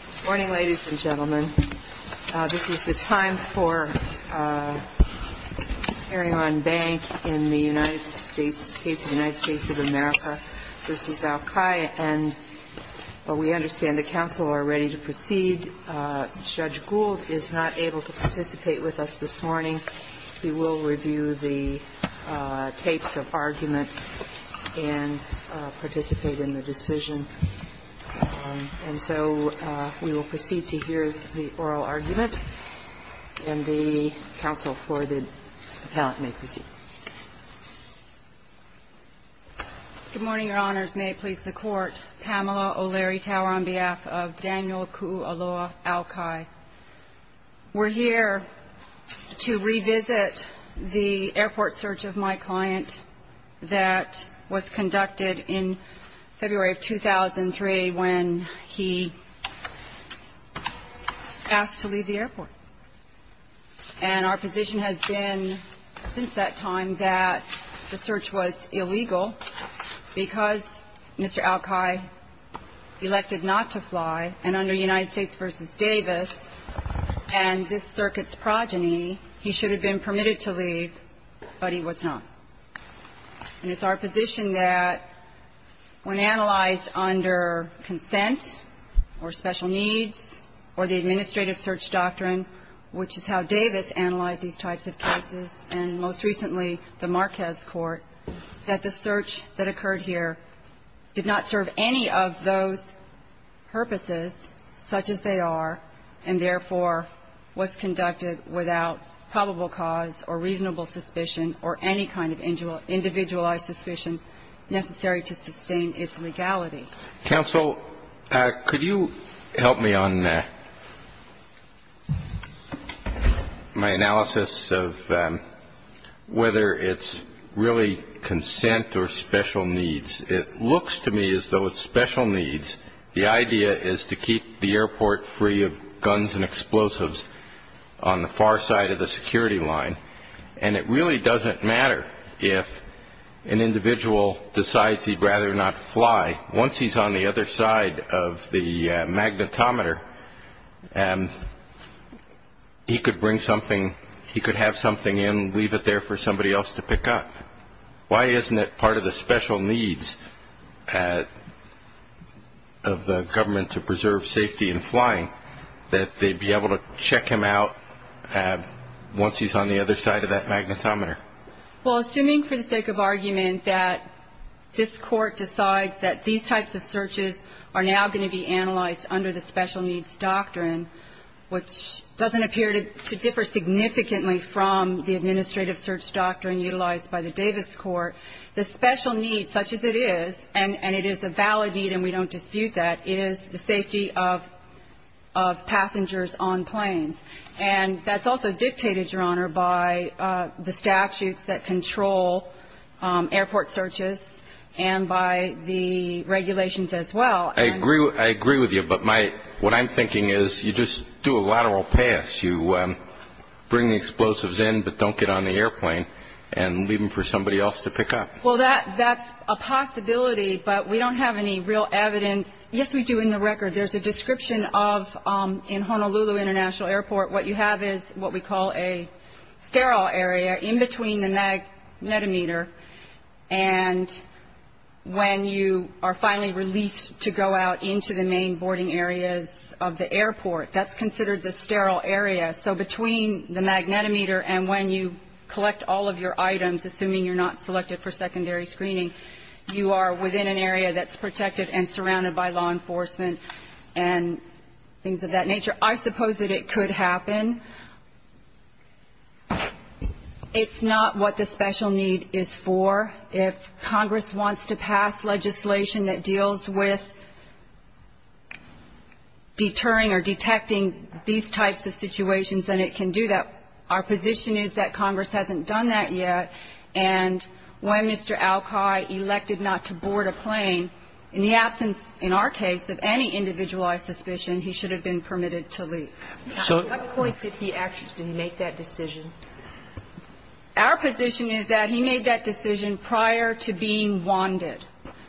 Good morning, ladies and gentlemen. This is the time for hearing on Bank in the United States, case of the United States of America v. Aukai. And we understand the counsel are ready to proceed. Judge Gould is not able to participate with us this morning. We will review the tapes of argument and participate in the decision. And so we will proceed to hear the oral argument. And the counsel for the appellant may proceed. Good morning, Your Honors. May it please the Court, Pamela O'Leary Tower on behalf of Daniel Kuu'aloa Aukai. We're here to revisit the airport search of my client that was conducted in February of 2003 when he asked to leave the airport. And our position has been since that time that the search was illegal because Mr. Aukai elected not to fly. And under United States v. Davis and this circuit's progeny, he should have been permitted to leave, but he was not. And it's our position that when analyzed under consent or special needs or the administrative search doctrine, which is how Davis analyzed these types of cases and most recently the Marquez court, that the search that occurred here did not serve any of those purposes such as they are, and therefore was conducted without probable cause or reasonable suspicion or any kind of individualized suspicion necessary to sustain its legality. Counsel, could you help me on my analysis of whether it's really consent or special needs? It looks to me as though it's special needs. The idea is to keep the airport free of guns and explosives on the far side of the security line. And it really doesn't matter if an individual decides he'd rather not fly. Once he's on the other side of the magnetometer, he could bring something, he could have something in, leave it there for somebody else to pick up. Why isn't it part of the special needs of the government to preserve safety in flying that they'd be able to check him out once he's on the other side of that magnetometer? Well, assuming for the sake of argument that this court decides that these types of searches are now going to be analyzed under the special needs doctrine, which doesn't appear to differ significantly from the administrative search doctrine utilized by the Davis court, the special needs, such as it is, and it is a valid need and we don't dispute that, is the safety of passengers on planes. And that's also dictated, Your Honor, by the statutes that control airport searches and by the regulations as well. I agree with you, but what I'm thinking is you just do a lateral pass. You bring the explosives in but don't get on the airplane and leave them for somebody else to pick up. Well, that's a possibility, but we don't have any real evidence. Yes, we do in the record. There's a description of, in Honolulu International Airport, what you have is what we call a sterile area in between the magnetometer and when you are finally released to go out into the main boarding areas of the airport. That's considered the sterile area. So between the magnetometer and when you collect all of your items, assuming you're not selected for secondary screening, you are within an area that's protected and surrounded by law enforcement and things of that nature. I suppose that it could happen. It's not what the special need is for. If Congress wants to pass legislation that deals with deterring or detecting these types of situations, then it can do that. Our position is that Congress hasn't done that yet, and when Mr. Alki elected not to board a plane, in the absence, in our case, of any individualized suspicion, he should have been permitted to leave. At what point did he actually make that decision? Our position is that he made that decision prior to being wanted,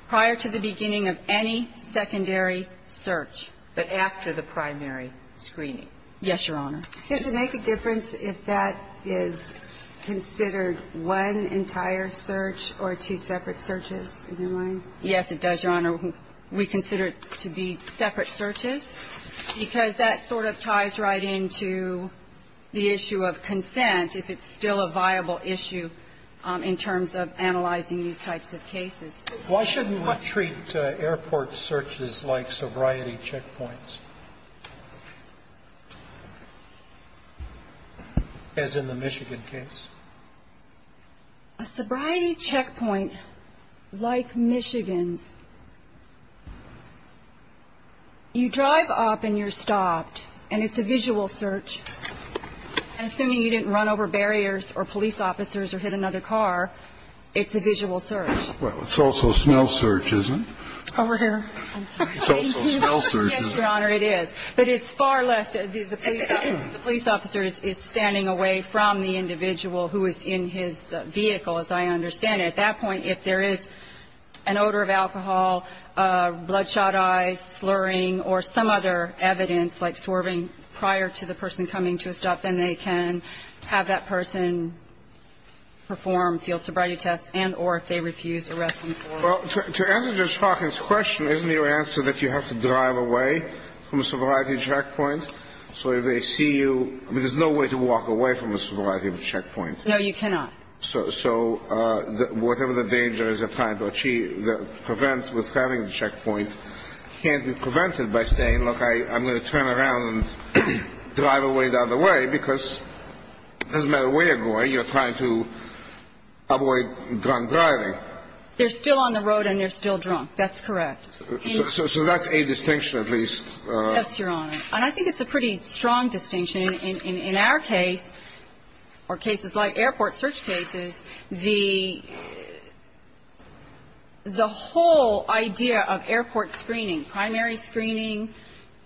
prior to the beginning of any secondary search, but after the primary screening. Yes, Your Honor. Does it make a difference if that is considered one entire search or two separate searches, in your mind? Yes, it does, Your Honor. We consider it to be separate searches because that sort of ties right into the issue of consent, if it's still a viable issue in terms of analyzing these types of cases. Why shouldn't we treat airport searches like sobriety checkpoints, as in the Michigan case? A sobriety checkpoint like Michigan's, you drive up and you're stopped, and it's a visual search. Assuming you didn't run over barriers or police officers or hit another car, it's a visual search. Well, it's also a smell search, isn't it? Over here. I'm sorry. It's also a smell search, isn't it? Yes, Your Honor, it is. But it's far less the police officer is standing away from the individual who is in his vehicle, as I understand it. At that point, if there is an odor of alcohol, bloodshot eyes, slurring, or some other evidence like swerving prior to the person coming to a stop, then they can have that person perform field sobriety tests and or if they refuse, arrest them for it. Well, to answer Judge Hawkins' question, isn't your answer that you have to drive away from a sobriety checkpoint? So if they see you – I mean, there's no way to walk away from a sobriety checkpoint. No, you cannot. So whatever the danger is they're trying to achieve, prevent with having a checkpoint can't be prevented by saying, look, I'm going to turn around and drive away the other way because it doesn't matter where you're going, you're trying to avoid drunk driving. They're still on the road and they're still drunk. That's correct. So that's a distinction at least. Yes, Your Honor. And I think it's a pretty strong distinction. In our case, or cases like airport search cases, the whole idea of airport screening, primary screening,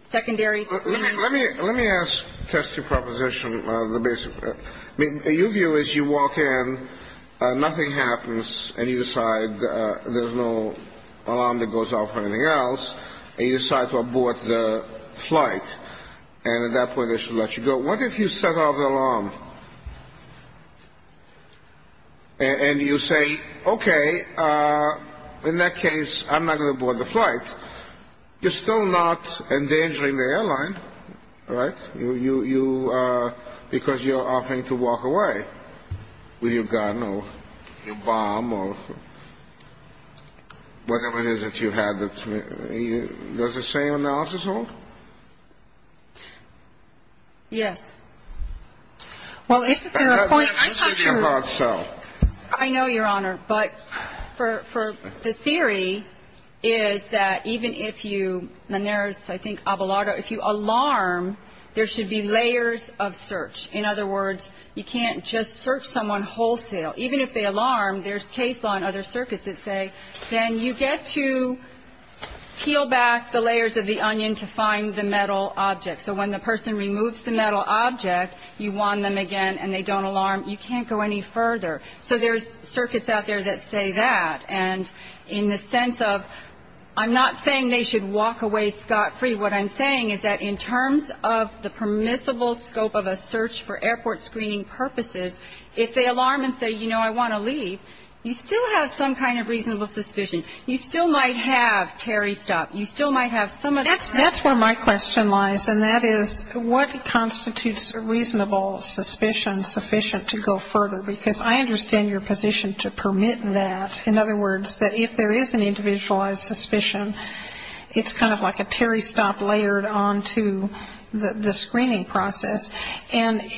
secondary screening. Let me ask test your proposition. I mean, your view is you walk in, nothing happens, and you decide there's no alarm that goes off or anything else, and you decide to abort the flight, and at that point they should let you go. What if you set off the alarm and you say, okay, in that case I'm not going to abort the flight. You're still not endangering the airline, right? Because you're offering to walk away with your gun or your bomb or whatever it is that you have. Does the same analysis hold? Yes. Well, isn't there a point? I'm not sure. I know, Your Honor, but the theory is that even if you, and there's, I think, if you alarm, there should be layers of search. In other words, you can't just search someone wholesale. Even if they alarm, there's case law and other circuits that say, then you get to peel back the layers of the onion to find the metal object. So when the person removes the metal object, you want them again, and they don't alarm. You can't go any further. So there's circuits out there that say that. And in the sense of, I'm not saying they should walk away scot-free. What I'm saying is that in terms of the permissible scope of a search for airport screening purposes, if they alarm and say, you know, I want to leave, you still have some kind of reasonable suspicion. You still might have Terry stop. You still might have some of that. That's where my question lies, and that is, what constitutes reasonable suspicion sufficient to go further? Because I understand your position to permit that. In other words, that if there is an individualized suspicion, it's kind of like a Terry stop layered onto the screening process. And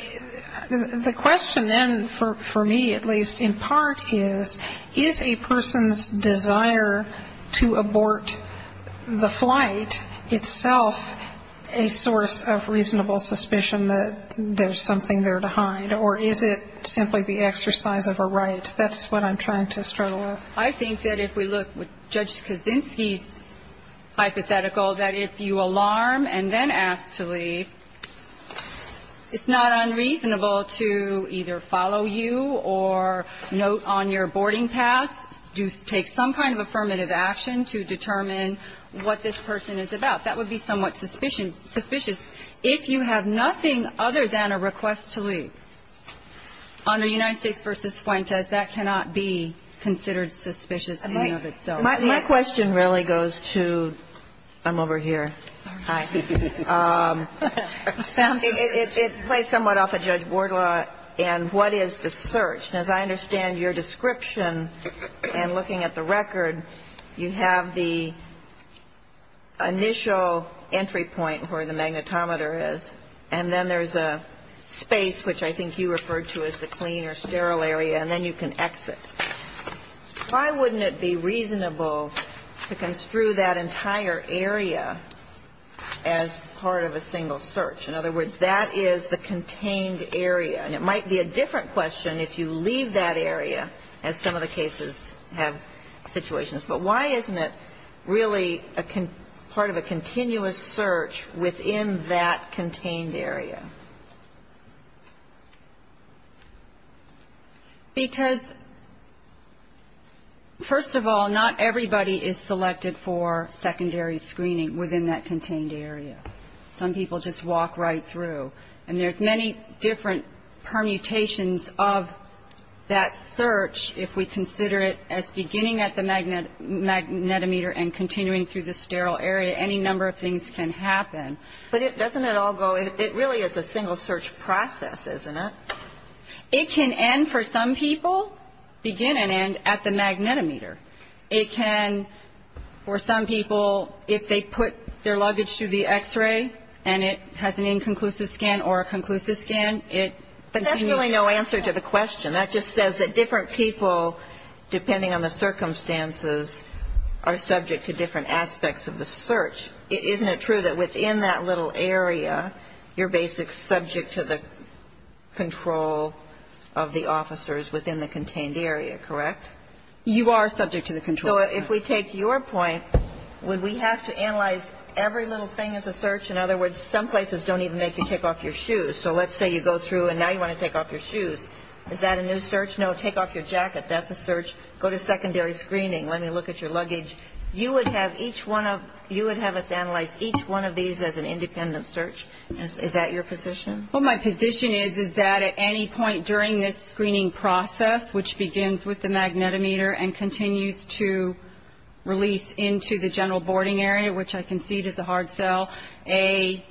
the question then, for me at least, in part, is, is a person's desire to abort the flight itself a source of reasonable suspicion that there's something there to hide? Or is it simply the exercise of a right? That's what I'm trying to struggle with. I think that if we look with Judge Kaczynski's hypothetical, that if you alarm and then ask to leave, it's not unreasonable to either follow you or note on your boarding pass, take some kind of affirmative action to determine what this person is about. That would be somewhat suspicious. If you have nothing other than a request to leave, under United States v. Fuentes, that cannot be considered suspicious in and of itself. My question really goes to ‑‑ I'm over here. Hi. It plays somewhat off of Judge Bordlaw and what is the search. As I understand your description and looking at the record, you have the initial entry point where the magnetometer is, and then there's a space which I think you referred to as the clean or sterile area, and then you can exit. Why wouldn't it be reasonable to construe that entire area as part of a single search? In other words, that is the contained area. And it might be a different question if you leave that area, as some of the cases have situations. But why isn't it really part of a continuous search within that contained area? Because, first of all, not everybody is selected for secondary screening within that contained area. Some people just walk right through. And there's many different permutations of that search, if we consider it as beginning at the magnetometer and continuing through the sterile area. Any number of things can happen. But doesn't it all go ‑‑ it really is a single search process, isn't it? It can end, for some people, begin and end at the magnetometer. It can, for some people, if they put their luggage through the X‑ray and it has an inconclusive scan or a conclusive scan, it continues. But that's really no answer to the question. That just says that different people, depending on the circumstances, are subject to different aspects of the search. Isn't it true that within that little area, you're basically subject to the control of the officers within the contained area, correct? You are subject to the control. So if we take your point, would we have to analyze every little thing as a search? In other words, some places don't even make you take off your shoes. So let's say you go through and now you want to take off your shoes. Is that a new search? No, take off your jacket. That's a search. Go to secondary screening. Let me look at your luggage. You would have each one of ‑‑ you would have us analyze each one of these as an independent search. Is that your position? Well, my position is, is that at any point during this screening process, which begins with the magnetometer and continues to release into the general boarding area, which I concede is a hard sell, a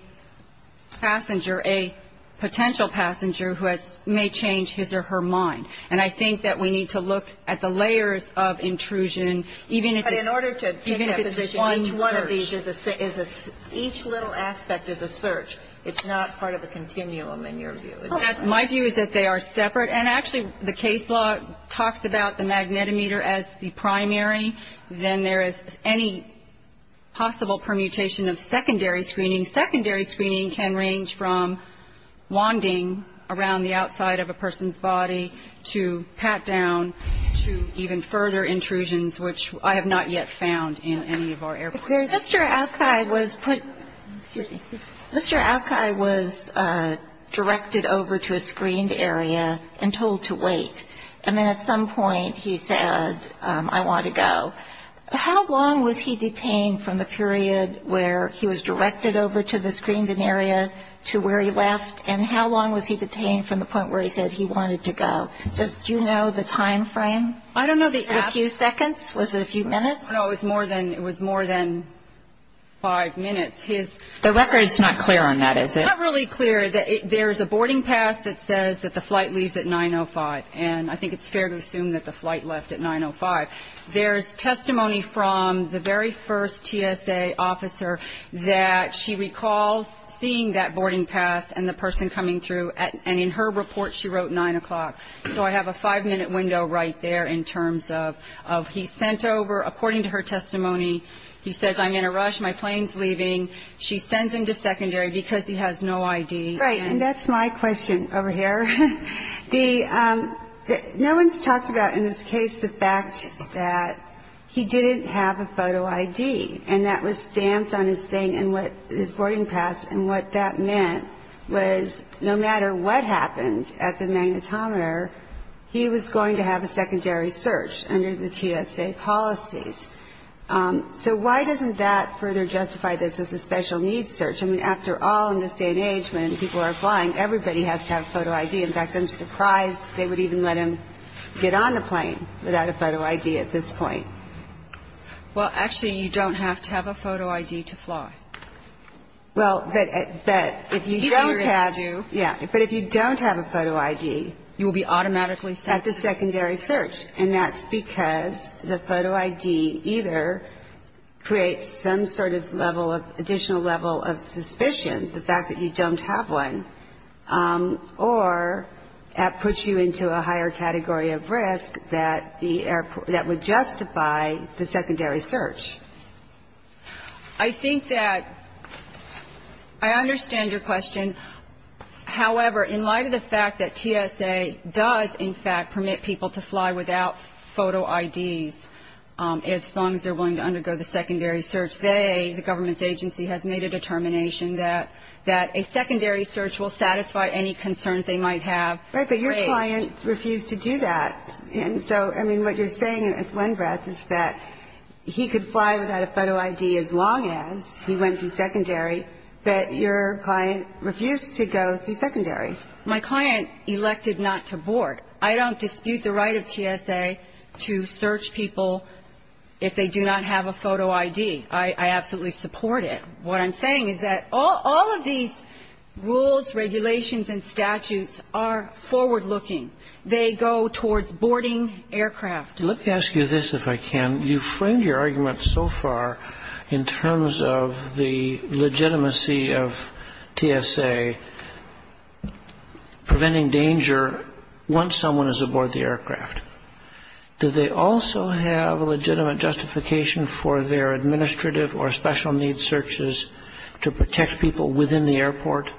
passenger, a potential passenger who has ‑‑ may change his or her mind. And I think that we need to look at the layers of intrusion, even if it's one search. But in order to take that position, each one of these is a ‑‑ each little aspect is a search. It's not part of a continuum, in your view. My view is that they are separate. And actually, the case law talks about the magnetometer as the primary. Then there is any possible permutation of secondary screening. Secondary screening can range from wanding around the outside of a person's body to pat down to even further intrusions, which I have not yet found in any of our airports. Mr. Alki was put ‑‑ excuse me. Mr. Alki was directed over to a screened area and told to wait. And then at some point he said, I want to go. How long was he detained from the period where he was directed over to the screened area to where he left? And how long was he detained from the point where he said he wanted to go? Do you know the time frame? I don't know the ‑‑ Was it a few seconds? Was it a few minutes? No, it was more than five minutes. The record is not clear on that, is it? It's not really clear. There is a boarding pass that says that the flight leaves at 9.05, and I think it's fair to assume that the flight left at 9.05. There is testimony from the very first TSA officer that she recalls seeing that boarding pass and the person coming through, and in her report she wrote 9 o'clock. So I have a five‑minute window right there in terms of he sent over, according to her testimony, he says, I'm in a rush, my plane is leaving. She sends him to secondary because he has no ID. Right, and that's my question over here. No one has talked about in this case the fact that he didn't have a photo ID, and that was stamped on his thing and his boarding pass, and what that meant was no matter what happened at the magnetometer, he was going to have a secondary search under the TSA policies. So why doesn't that further justify this as a special needs search? I mean, after all, in this day and age, when people are flying, everybody has to have a photo ID. In fact, I'm surprised they would even let him get on the plane without a photo ID at this point. Well, actually, you don't have to have a photo ID to fly. Well, but if you don't have ‑‑ It's easier if you do. Yeah. But if you don't have a photo ID ‑‑ You will be automatically ‑‑ At the secondary search. And that's because the photo ID either creates some sort of level of additional level of suspicion, the fact that you don't have one, or puts you into a higher category of risk that the airport ‑‑ that would justify the secondary search. I think that ‑‑ I understand your question. However, in light of the fact that TSA does, in fact, permit people to fly without photo IDs, as long as they're willing to undergo the secondary search, they, the government's agency, has made a determination that a secondary search will satisfy any concerns they might have. Right. But your client refused to do that. And so, I mean, what you're saying at one breath is that he could fly without a photo ID as long as he went through secondary, but your client refused to go through secondary. My client elected not to board. I don't dispute the right of TSA to search people if they do not have a photo ID. I absolutely support it. What I'm saying is that all of these rules, regulations, and statutes are forward looking. They go towards boarding aircraft. Let me ask you this, if I can. You framed your argument so far in terms of the legitimacy of TSA preventing danger once someone is aboard the aircraft. Do they also have a legitimate justification for their administrative or special needs searches to protect people within the airport?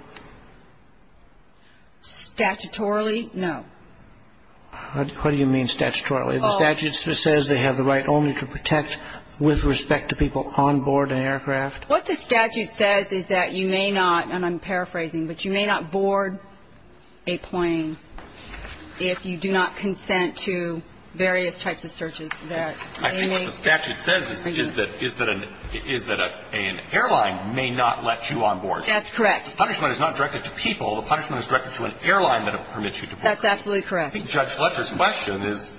Statutorily, no. What do you mean statutorily? The statute says they have the right only to protect with respect to people on board an aircraft. What the statute says is that you may not, and I'm paraphrasing, but you may not board a plane if you do not consent to various types of searches that may make. I think what the statute says is that an airline may not let you on board. That's correct. The punishment is not directed to people. The punishment is directed to an airline that permits you to board. That's absolutely correct. I think Judge Fletcher's question is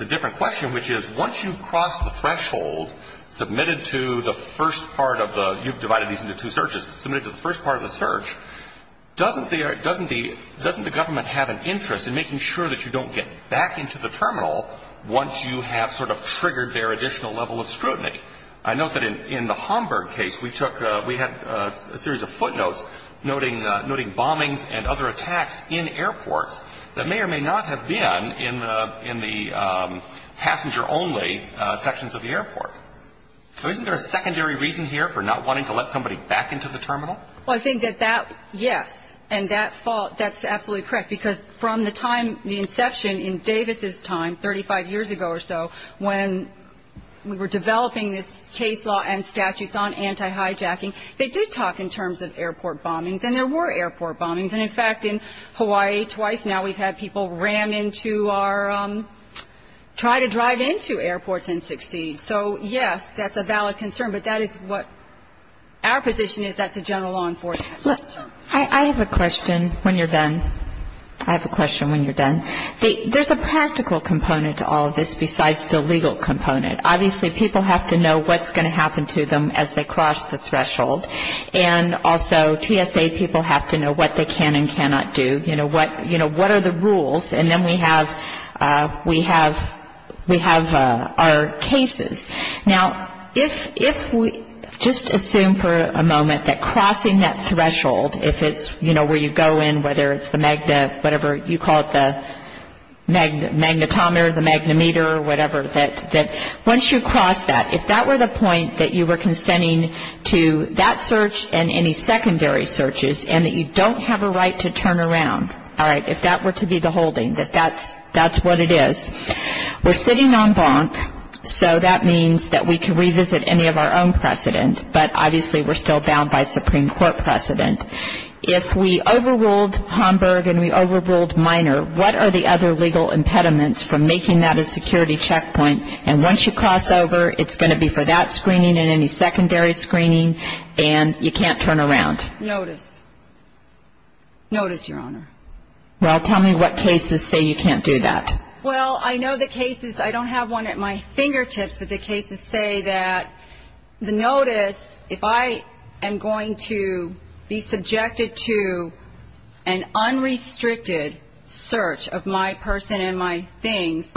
a different question, which is once you've crossed the threshold, submitted to the first part of the you've divided these into two searches, submitted to the first part of the search, doesn't the government have an interest in making sure that you don't get back into the terminal once you have sort of triggered their additional level of scrutiny? I note that in the Homburg case, we took, we had a series of footnotes noting bombings and other attacks in airports that may or may not have been in the passenger only sections of the airport. So isn't there a secondary reason here for not wanting to let somebody back into the terminal? Well, I think that that, yes, and that's absolutely correct, because from the time, in Davis's time, 35 years ago or so, when we were developing this case law and statutes on anti-hijacking, they did talk in terms of airport bombings, and there were airport bombings. And, in fact, in Hawaii twice now, we've had people ram into our, try to drive into airports and succeed. So, yes, that's a valid concern, but that is what our position is, that's a general law enforcement concern. I have a question when you're done. I have a question when you're done. There's a practical component to all of this besides the legal component. Obviously, people have to know what's going to happen to them as they cross the threshold, and also TSA people have to know what they can and cannot do, you know, what are the rules, and then we have our cases. Now, if we just assume for a moment that crossing that threshold, if it's, you know, where you go in, whether it's the magna, whatever you call it, the magnetometer, the magnimeter, or whatever, that once you cross that, if that were the point that you were consenting to that search and any secondary searches, and that you don't have a right to turn around, all right, if that were to be the holding, that that's what it is, we're sitting on bonk, so that means that we can revisit any of our own precedent, but obviously we're still bound by Supreme Court precedent. If we overruled Homburg and we overruled Minor, what are the other legal impediments from making that a security checkpoint, and once you cross over, it's going to be for that screening and any secondary screening, and you can't turn around? Notice. Notice, Your Honor. Well, tell me what cases say you can't do that. Well, I know the cases. I don't have one at my fingertips, but the cases say that the notice, if I am going to be subjected to an unrestricted search of my person and my things,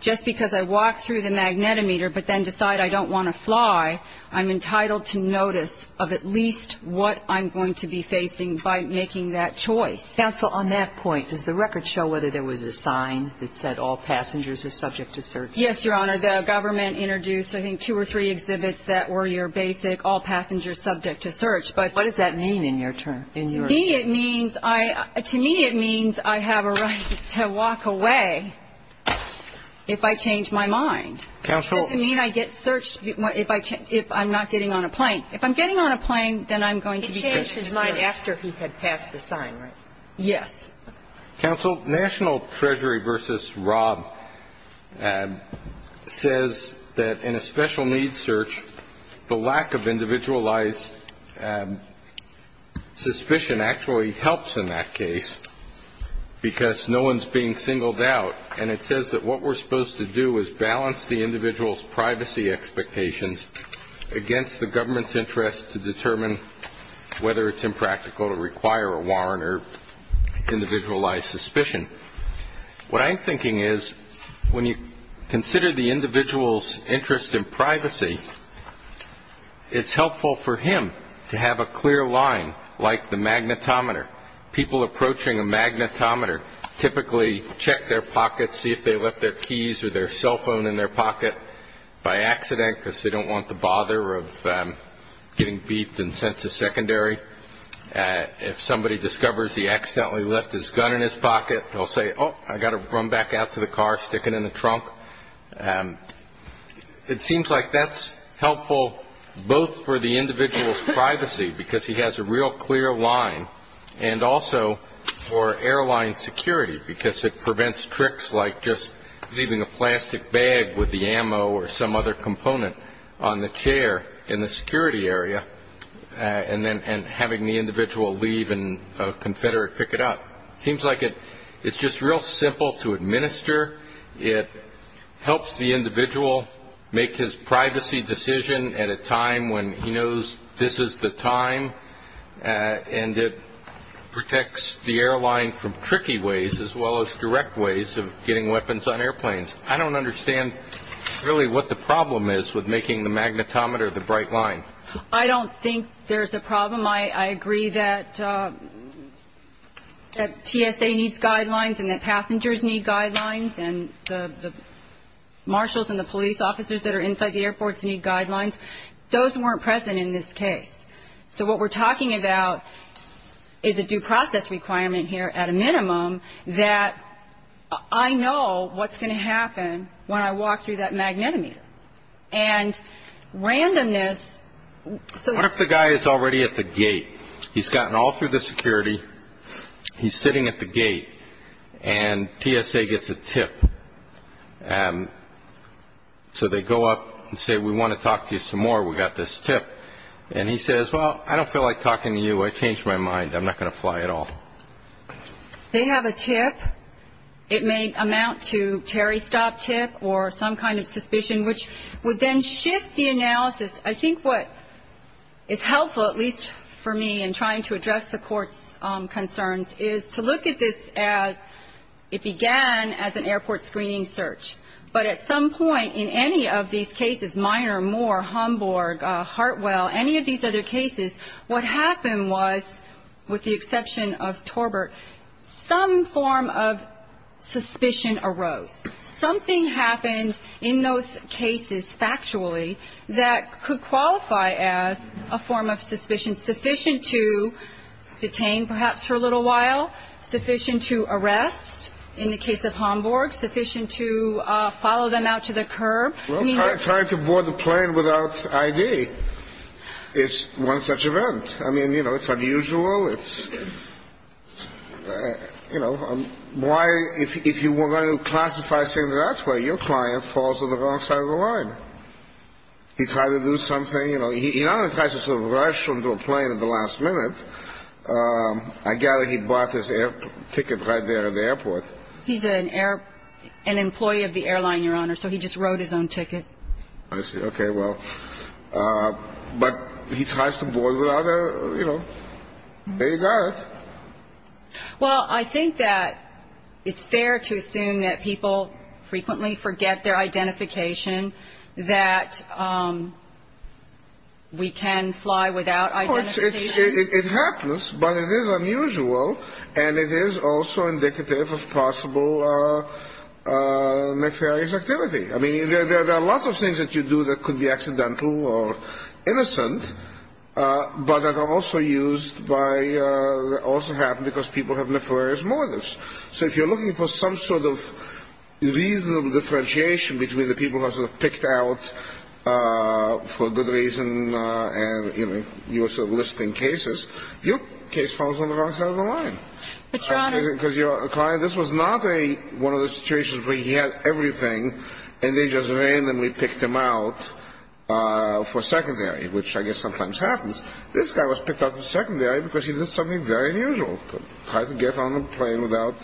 just because I walk through the magnetometer but then decide I don't want to fly, I'm entitled to notice of at least what I'm going to be facing by making that choice. Counsel, on that point, does the record show whether there was a sign that said all passengers are subject to search? Yes, Your Honor. The government introduced, I think, two or three exhibits that were your basic requirements. The first one was that there was a sign that said all passengers are subject to search. What does that mean in your term? To me, it means I have a right to walk away if I change my mind. Counsel. It doesn't mean I get searched if I'm not getting on a plane. If I'm getting on a plane, then I'm going to be searched. He changed his mind after he had passed the sign, right? Yes. Counsel, National Treasury v. Rob says that in a special needs search, the lack of individualized suspicion actually helps in that case because no one is being singled out. And it says that what we're supposed to do is balance the individual's privacy expectations against the government's interest to determine whether it's impractical to require a warrant or individualized suspicion. What I'm thinking is when you consider the individual's interest in privacy, it's helpful for him to have a clear line like the magnetometer. People approaching a magnetometer typically check their pockets, see if they left their keys or their cell phone in their pocket by accident because they don't want the bother of getting beefed in sense of secondary. If somebody discovers he accidentally left his gun in his pocket, they'll say, oh, I've got to run back out to the car, stick it in the trunk. It seems like that's helpful both for the individual's privacy because he has a real clear line and also for airline security because it prevents tricks like just leaving a plastic bag with the ammo or some other component on the chair in the security area and then having the individual leave and a confederate pick it up. It seems like it's just real simple to administer. It helps the individual make his privacy decision at a time when he knows this is the time, and it protects the airline from tricky ways as well as direct ways of getting weapons on airplanes. I don't understand really what the problem is with making the magnetometer the bright line. I don't think there's a problem. I agree that TSA needs guidelines and that passengers need guidelines and the marshals and the police officers that are inside the airports need guidelines. Those weren't present in this case. So what we're talking about is a due process requirement here at a minimum that I know what's going to happen when I walk through that magnetometer. And randomness. What if the guy is already at the gate? He's gotten all through the security. He's sitting at the gate, and TSA gets a tip. So they go up and say, we want to talk to you some more. We've got this tip. And he says, well, I don't feel like talking to you. I changed my mind. I'm not going to fly at all. They have a tip. It may amount to Terry stopped tip or some kind of suspicion, which would then shift the analysis. I think what is helpful, at least for me in trying to address the court's concerns, is to look at this as it began as an airport screening search. But at some point in any of these cases, Minor, Moore, Homburg, Hartwell, any of these other cases, what happened was, with the exception of Torbert, some form of suspicion arose. Something happened in those cases, factually, that could qualify as a form of suspicion, sufficient to detain perhaps for a little while, sufficient to arrest in the case of Homburg, sufficient to follow them out to the curb. Well, trying to board the plane without I.D. is one such event. I mean, you know, it's unusual. It's, you know, why, if you were going to classify things that way, your client falls on the wrong side of the line. He tried to do something, you know. He not only tries to rush into a plane at the last minute. I gather he bought his air ticket right there at the airport. He's an employee of the airline, Your Honor, so he just wrote his own ticket. I see. Okay, well, but he tries to board without a, you know, there you got it. Well, I think that it's fair to assume that people frequently forget their identification, that we can fly without identification. It happens, but it is unusual, and it is also indicative of possible nefarious activity. I mean, there are lots of things that you do that could be accidental or innocent, but that are also used by, also happen because people have nefarious motives. So if you're looking for some sort of reasonable differentiation between the people who have sort of for a good reason and, you know, you're sort of listing cases, your case falls on the wrong side of the line. But, Your Honor. Because your client, this was not one of the situations where he had everything and they just randomly picked him out for secondary, which I guess sometimes happens. This guy was picked out for secondary because he did something very unusual, tried to get on a plane without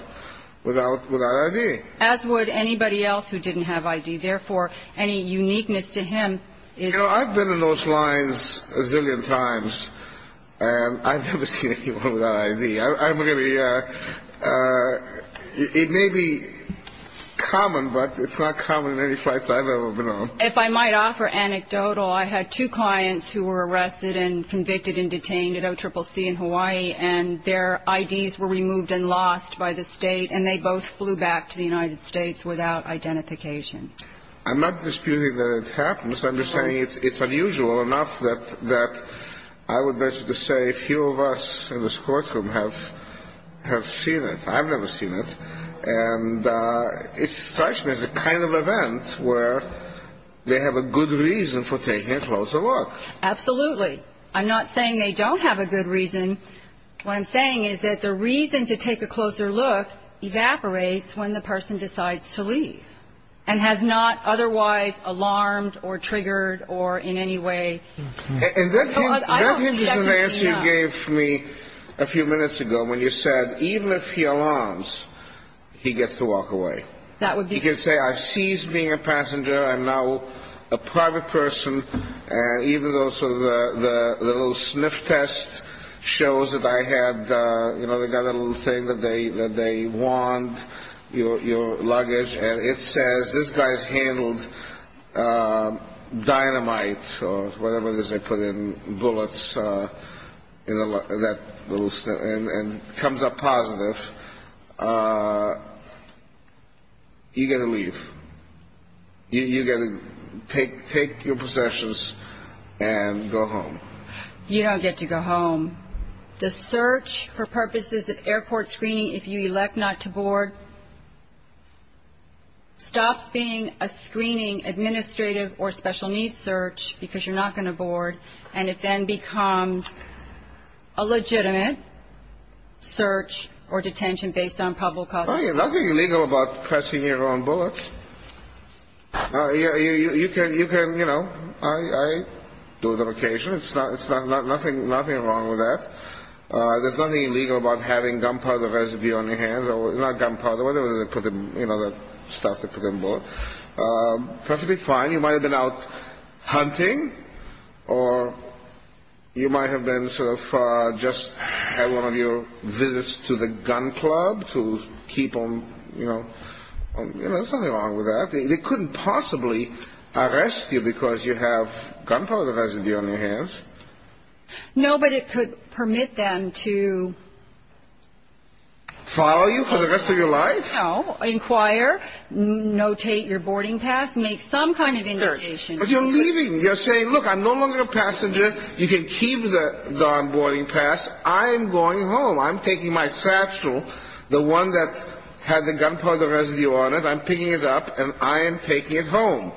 ID. As would anybody else who didn't have ID. Therefore, any uniqueness to him is... You know, I've been in those lines a zillion times, and I've never seen anyone without ID. I'm really, it may be common, but it's not common in any flights I've ever been on. If I might offer anecdotal, I had two clients who were arrested and convicted and detained at OCCC in Hawaii, and their IDs were removed and lost by the State, and they both flew back to the United States without identification. I'm not disputing that it happens. I'm just saying it's unusual enough that I would venture to say a few of us in this courtroom have seen it. I've never seen it. And it strikes me as a kind of event where they have a good reason for taking a closer look. Absolutely. I'm not saying they don't have a good reason. What I'm saying is that the reason to take a closer look evaporates when the person decides to leave and has not otherwise alarmed or triggered or in any way... And that hint is an answer you gave me a few minutes ago when you said even if he alarms, he gets to walk away. That would be... He knows that I had, you know, they've got a little thing that they want, your luggage, and it says this guy's handled dynamite or whatever it is they put in, bullets, and comes up positive. You get to leave. You get to take your possessions and go home. You don't get to go home. The search for purposes of airport screening, if you elect not to board, stops being a screening administrative or special needs search because you're not going to board, and it then becomes a legitimate search or detention based on probable causes. There's nothing illegal about pressing your own bullets. You can, you know, I do it on occasion. There's nothing wrong with that. There's nothing illegal about having gunpowder residue on your hands, or not gunpowder, whatever they put in, you know, the stuff they put in bullets. That should be fine. You might have been out hunting, or you might have been sort of just had one of your visits to the gun club to keep them, and, you know, there's nothing wrong with that. They couldn't possibly arrest you because you have gunpowder residue on your hands. No, but it could permit them to... Follow you for the rest of your life? No, inquire, notate your boarding pass, make some kind of indication. But you're leaving. You're saying, look, I'm no longer a passenger. You can keep the boarding pass. I am going home. I'm taking my satchel, the one that had the gunpowder residue on it, I'm picking it up, and I am taking it home.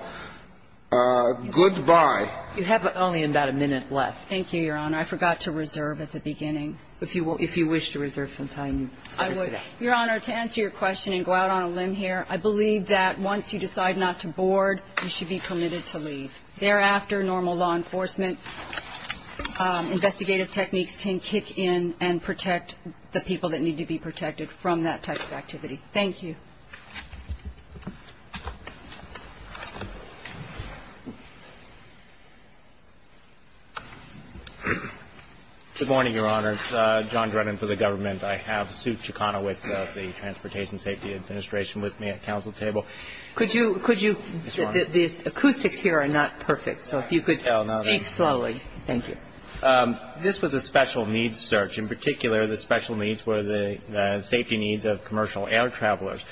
Goodbye. You have only about a minute left. Thank you, Your Honor. I forgot to reserve at the beginning. If you wish to reserve some time. I would. Your Honor, to answer your question and go out on a limb here, I believe that once you decide not to board, you should be permitted to leave. Thereafter, normal law enforcement investigative techniques can kick in and protect the people that need to be protected from that type of activity. Thank you. Good morning, Your Honors. John Drennan for the government. I have Sue Chicanowitz of the Transportation Safety Administration with me at counsel table. Could you – the acoustics here are not perfect, so if you could speak slowly. Thank you. This was a special needs search. In particular, the special needs were the safety needs of commercial air travelers.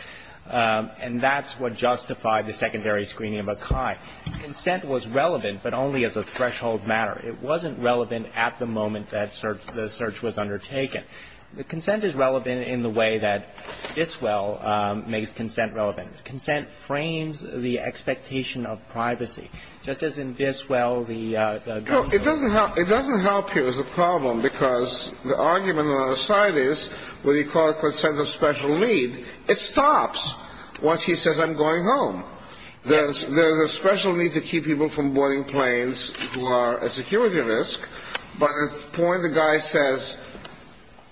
And that's what justified the secondary screening of Akai. Consent was relevant, but only as a threshold matter. It wasn't relevant at the moment that the search was undertaken. Consent is relevant in the way that Biswell makes consent relevant. Consent frames the expectation of privacy. Just as in Biswell, the – No, it doesn't help. It doesn't help here as a problem because the argument on the side is when you call it consent of special need, it stops once he says, I'm going home. There's a special need to keep people from boarding planes who are a security risk, but at the point the guy says,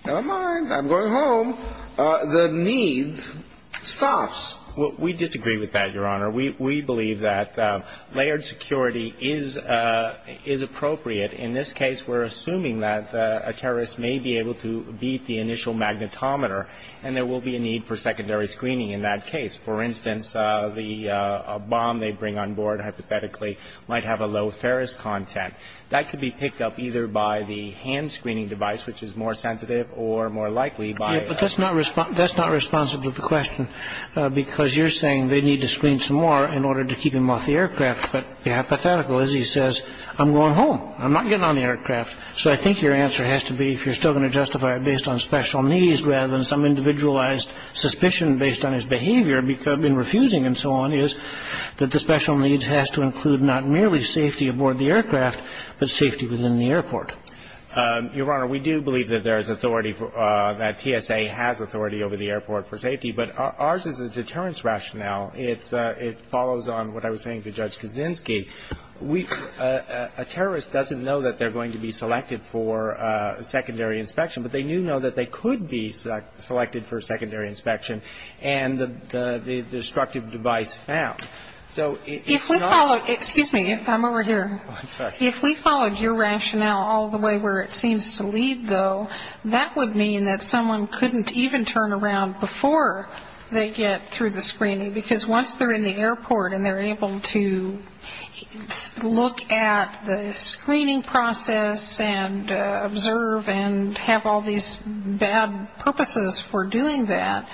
never mind, I'm going home, the need stops. We disagree with that, Your Honor. We believe that layered security is appropriate. In this case, we're assuming that a terrorist may be able to beat the initial magnetometer, and there will be a need for secondary screening in that case. For instance, the bomb they bring on board hypothetically might have a low Ferris content. That could be picked up either by the hand screening device, which is more sensitive, or more likely by – But that's not responsive to the question because you're saying they need to screen some more in order to keep him off the aircraft. But the hypothetical is he says, I'm going home. I'm not getting on the aircraft. So I think your answer has to be, if you're still going to justify it based on special needs rather than some individualized suspicion based on his behavior in refusing and so on, is that the special needs has to include not merely safety aboard the aircraft, but safety within the airport. Your Honor, we do believe that there is authority – that TSA has authority over the airport for safety. But ours is a deterrence rationale. It follows on what I was saying to Judge Kaczynski. We – a terrorist doesn't know that they're going to be selected for secondary inspection, but they do know that they could be selected for secondary inspection and the destructive device found. So it's not – If we followed – excuse me. I'm over here. I'm sorry. If we followed your rationale all the way where it seems to lead, though, that would mean that someone couldn't even turn around before they get through the screening. Because once they're in the airport and they're able to look at the screening process and observe and have all these bad purposes for doing that,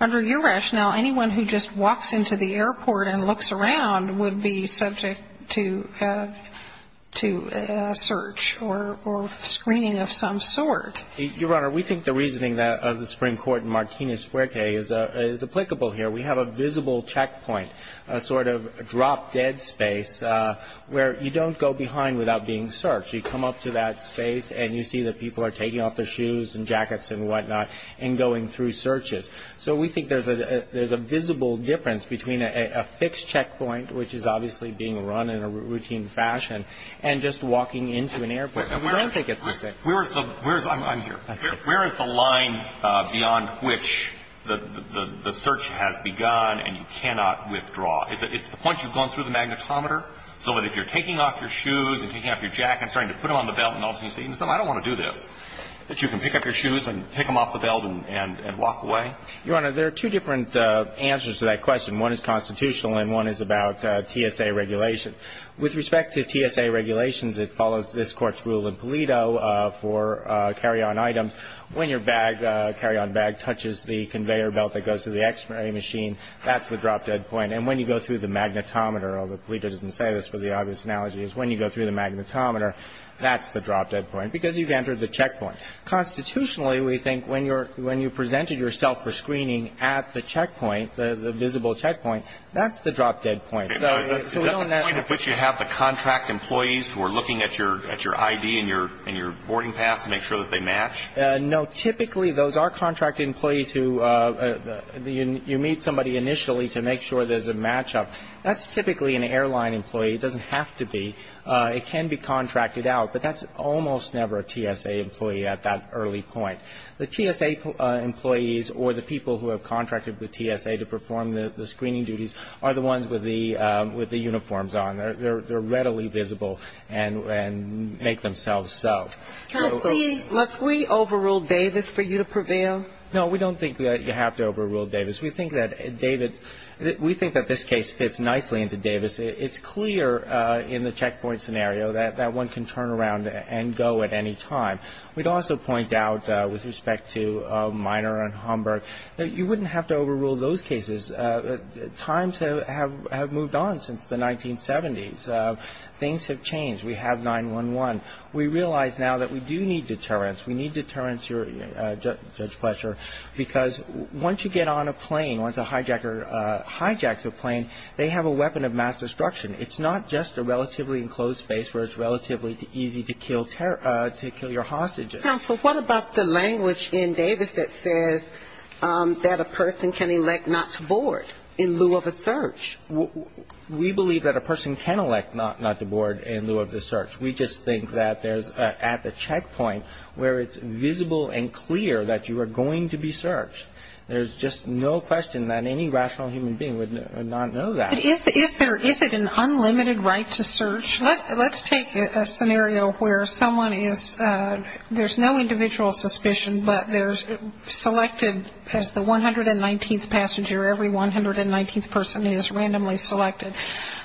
under your rationale, anyone who just walks into the airport and looks around would be subject to a search or screening of some sort. Your Honor, we think the reasoning of the Supreme Court in Martinez-Fuerte is applicable here. We have a visible checkpoint, a sort of drop-dead space where you don't go behind without being searched. You come up to that space and you see that people are taking off their shoes and jackets and whatnot and going through searches. So we think there's a visible difference between a fixed checkpoint, which is obviously being run in a routine fashion, and just walking into an airport. Where is the – I'm here. Where is the line beyond which the search has begun and you cannot withdraw? Is it the point you've gone through the magnetometer, so that if you're taking off your shoes and taking off your jacket and starting to put them on the belt and all of a sudden you say, I don't want to do this, that you can pick up your shoes and pick them off the belt and walk away? Your Honor, there are two different answers to that question. One is constitutional and one is about TSA regulations. With respect to TSA regulations, it follows this Court's rule in Pulido for carry-on items. When your bag, carry-on bag, touches the conveyor belt that goes to the X-ray machine, that's the drop-dead point. And when you go through the magnetometer, although Pulido doesn't say this for the obvious analogy, is when you go through the magnetometer, that's the drop-dead point because you've entered the checkpoint. Constitutionally, we think when you presented yourself for screening at the checkpoint, the visible checkpoint, that's the drop-dead point. Is that the point at which you have the contract employees who are looking at your ID and your boarding pass to make sure that they match? No. Typically, those are contract employees who you meet somebody initially to make sure there's a matchup. That's typically an airline employee. It doesn't have to be. It can be contracted out. But that's almost never a TSA employee at that early point. The TSA employees or the people who have contracted with TSA to perform the screening duties are the ones with the uniforms on. They're readily visible and make themselves so. Counsel, must we overrule Davis for you to prevail? No, we don't think that you have to overrule Davis. We think that this case fits nicely into Davis. It's clear in the checkpoint scenario that one can turn around and go at any time. We'd also point out with respect to Minor and Homburg that you wouldn't have to overrule those cases. Times have moved on since the 1970s. Things have changed. We have 911. We realize now that we do need deterrence. We need deterrence, Judge Fletcher, because once you get on a plane, once a hijacker hijacks a plane, they have a weapon of mass destruction. It's not just a relatively enclosed space where it's relatively easy to kill your hostages. Counsel, what about the language in Davis that says that a person can elect not to board in lieu of a search? We believe that a person can elect not to board in lieu of the search. We just think that there's at the checkpoint where it's visible and clear that you are going to be searched. There's just no question that any rational human being would not know that. Is it an unlimited right to search? Let's take a scenario where someone is ‑‑ there's no individual suspicion, but there's selected as the 119th passenger, every 119th person is randomly selected.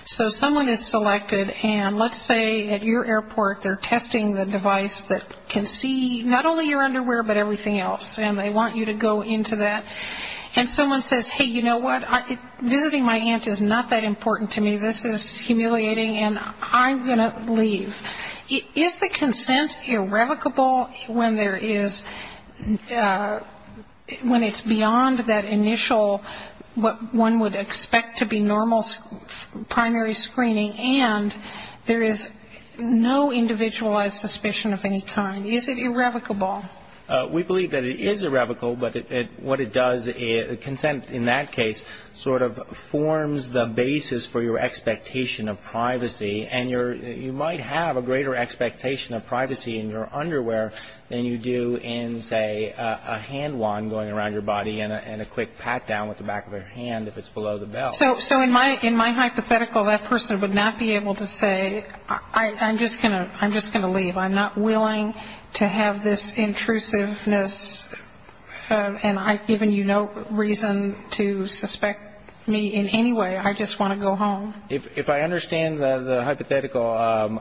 So someone is selected, and let's say at your airport they're testing the device that can see not only your underwear, but everything else, and they want you to go into that. And someone says, hey, you know what, visiting my aunt is not that important to me. This is humiliating, and I'm going to leave. Is the consent irrevocable when there is ‑‑ when it's beyond that initial, what one would expect to be normal primary screening, and there is no individualized suspicion of any kind? Is it irrevocable? We believe that it is irrevocable, but what it does, consent in that case sort of forms the basis for your expectation of privacy, and you might have a greater expectation of privacy in your underwear than you do in, say, a hand wand going around your body and a quick pat down with the back of your hand if it's below the belt. So in my hypothetical, that person would not be able to say, I'm just going to leave. I'm not willing to have this intrusiveness, and I've given you no reason to suspect me in any way. I just want to go home. If I understand the hypothetical,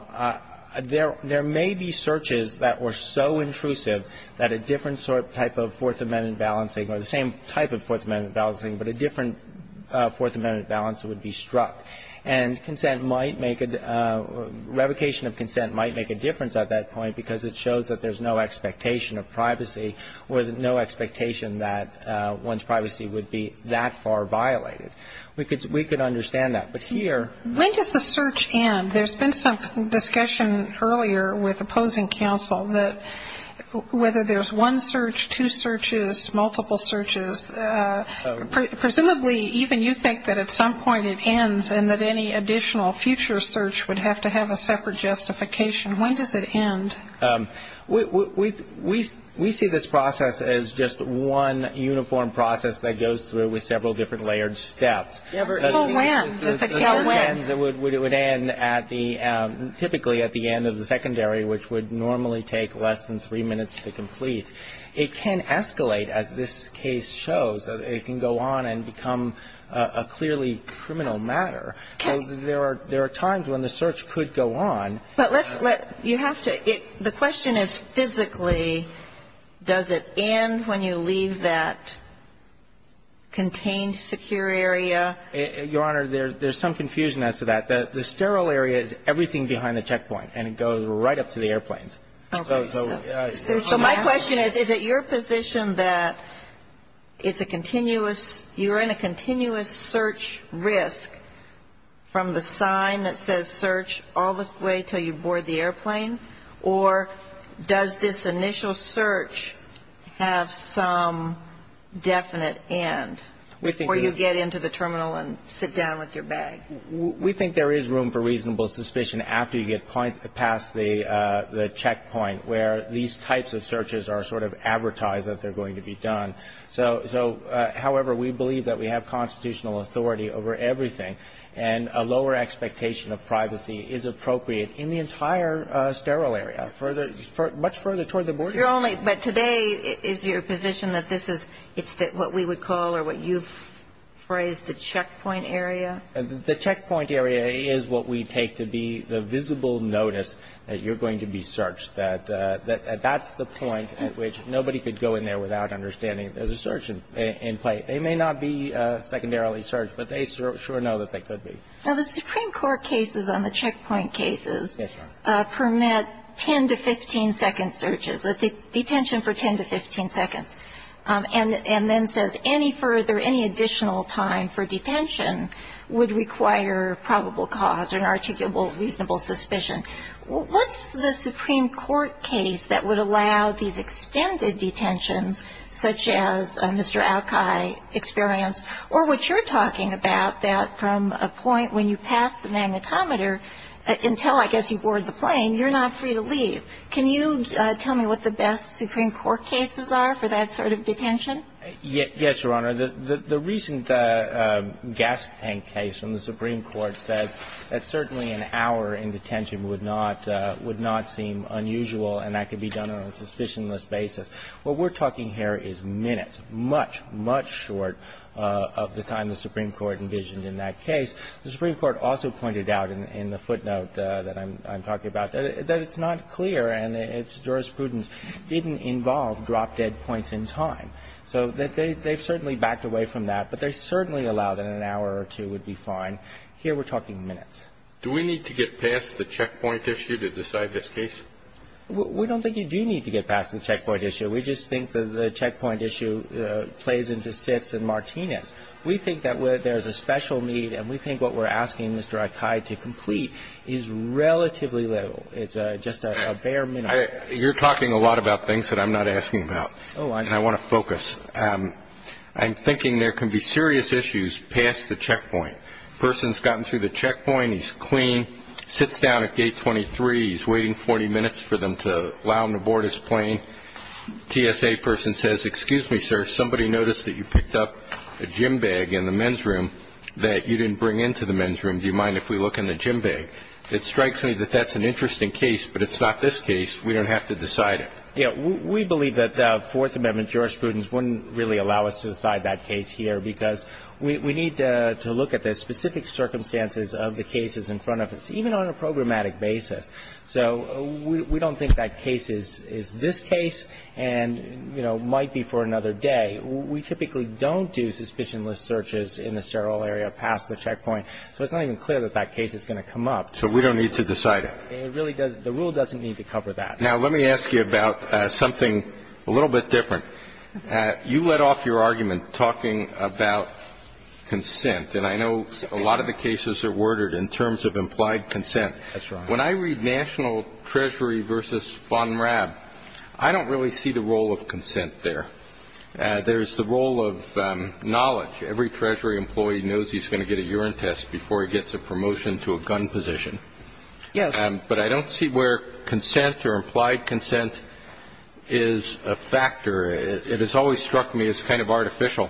there may be searches that were so intrusive that a different type of Fourth Amendment balancing, or the same type of Fourth Amendment balancing, but a different Fourth Amendment balance would be struck. And consent might make a ‑‑ revocation of consent might make a difference at that point because it shows that there's no expectation of privacy or no expectation that one's privacy would be that far violated. We could understand that. But here ‑‑ When does the search end? There's been some discussion earlier with opposing counsel that whether there's one search, two searches, multiple searches, presumably even you think that at some point it ends and that any additional future search would have to have a separate justification. When does it end? We see this process as just one uniform process that goes through with several different layered steps. It's a wham. It's a wham. It would end at the ‑‑ typically at the end of the secondary, which would normally take less than three minutes to complete. It can escalate, as this case shows. It can go on and become a clearly criminal matter. There are times when the search could go on. But let's let ‑‑ you have to ‑‑ the question is physically does it end when you leave that contained secure area? Your Honor, there's some confusion as to that. The sterile area is everything behind the checkpoint. And it goes right up to the airplanes. Okay. So my question is, is it your position that it's a continuous ‑‑ you're in a continuous search risk from the sign that says search all the way until you board the airplane? Or does this initial search have some definite end before you get into the terminal and sit down with your bag? We think there is room for reasonable suspicion after you get past the checkpoint, where these types of searches are sort of advertised that they're going to be done. So, however, we believe that we have constitutional authority over everything. And a lower expectation of privacy is appropriate in the entire sterile area, much further toward the border. But today is your position that this is what we would call or what you've phrased the checkpoint area? The checkpoint area is what we take to be the visible notice that you're going to be searched. That's the point at which nobody could go in there without understanding there's a search in play. They may not be secondarily searched, but they sure know that they could be. Now, the Supreme Court cases on the checkpoint cases ‑‑ Yes, Your Honor. ‑‑permit 10 to 15‑second searches, detention for 10 to 15 seconds. And then says any further, any additional time for detention would require probable cause or an articulable reasonable suspicion. What's the Supreme Court case that would allow these extended detentions, such as Mr. Alki experienced, or what you're talking about, that from a point when you pass the magnetometer until, I guess, you board the plane, you're not free to leave. Can you tell me what the best Supreme Court cases are for that sort of detention? Yes, Your Honor. The recent gas tank case from the Supreme Court says that certainly an hour in detention would not seem unusual, and that could be done on a suspicionless basis. What we're talking here is minutes, much, much short of the time the Supreme Court envisioned in that case. The Supreme Court also pointed out in the footnote that I'm talking about that it's not clear and its jurisprudence didn't involve drop dead points in time. So they've certainly backed away from that. But they certainly allow that an hour or two would be fine. Here we're talking minutes. Do we need to get past the checkpoint issue to decide this case? We don't think you do need to get past the checkpoint issue. We just think the checkpoint issue plays into Sitz and Martinez. We think that there's a special need, and we think what we're asking Mr. Alki to complete is relatively little. It's just a bare minimum. You're talking a lot about things that I'm not asking about. And I want to focus. I'm thinking there can be serious issues past the checkpoint. A person's gotten through the checkpoint, he's clean, sits down at gate 23, he's waiting 40 minutes for them to allow him to board his plane. A TSA person says, excuse me, sir, somebody noticed that you picked up a gym bag in the men's room that you didn't bring into the men's room. Do you mind if we look in the gym bag? It strikes me that that's an interesting case, but it's not this case. We don't have to decide it. We believe that the Fourth Amendment jurisprudence wouldn't really allow us to decide that case here because we need to look at the specific circumstances of the cases in front of us, even on a programmatic basis. So we don't think that case is this case and, you know, might be for another day. We typically don't do suspicionless searches in the sterile area past the checkpoint, so it's not even clear that that case is going to come up. So we don't need to decide it. It really doesn't. The rule doesn't need to cover that. Now, let me ask you about something a little bit different. You let off your argument talking about consent, and I know a lot of the cases are worded in terms of implied consent. That's right. When I read national treasury versus FONRAB, I don't really see the role of consent there. There's the role of knowledge. Every treasury employee knows he's going to get a urine test before he gets a promotion to a gun position. Yes. But I don't see where consent or implied consent is a factor. It has always struck me as kind of artificial,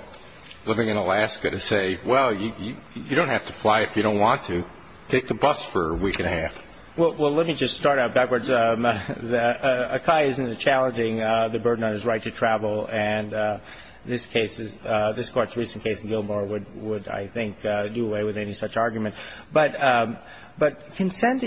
living in Alaska, to say, well, you don't have to fly if you don't want to. Take the bus for a week and a half. Well, let me just start out backwards. ACAI isn't challenging the burden on his right to travel, and this case, this Court's recent case in Gilmore, would, I think, do away with any such argument. But consent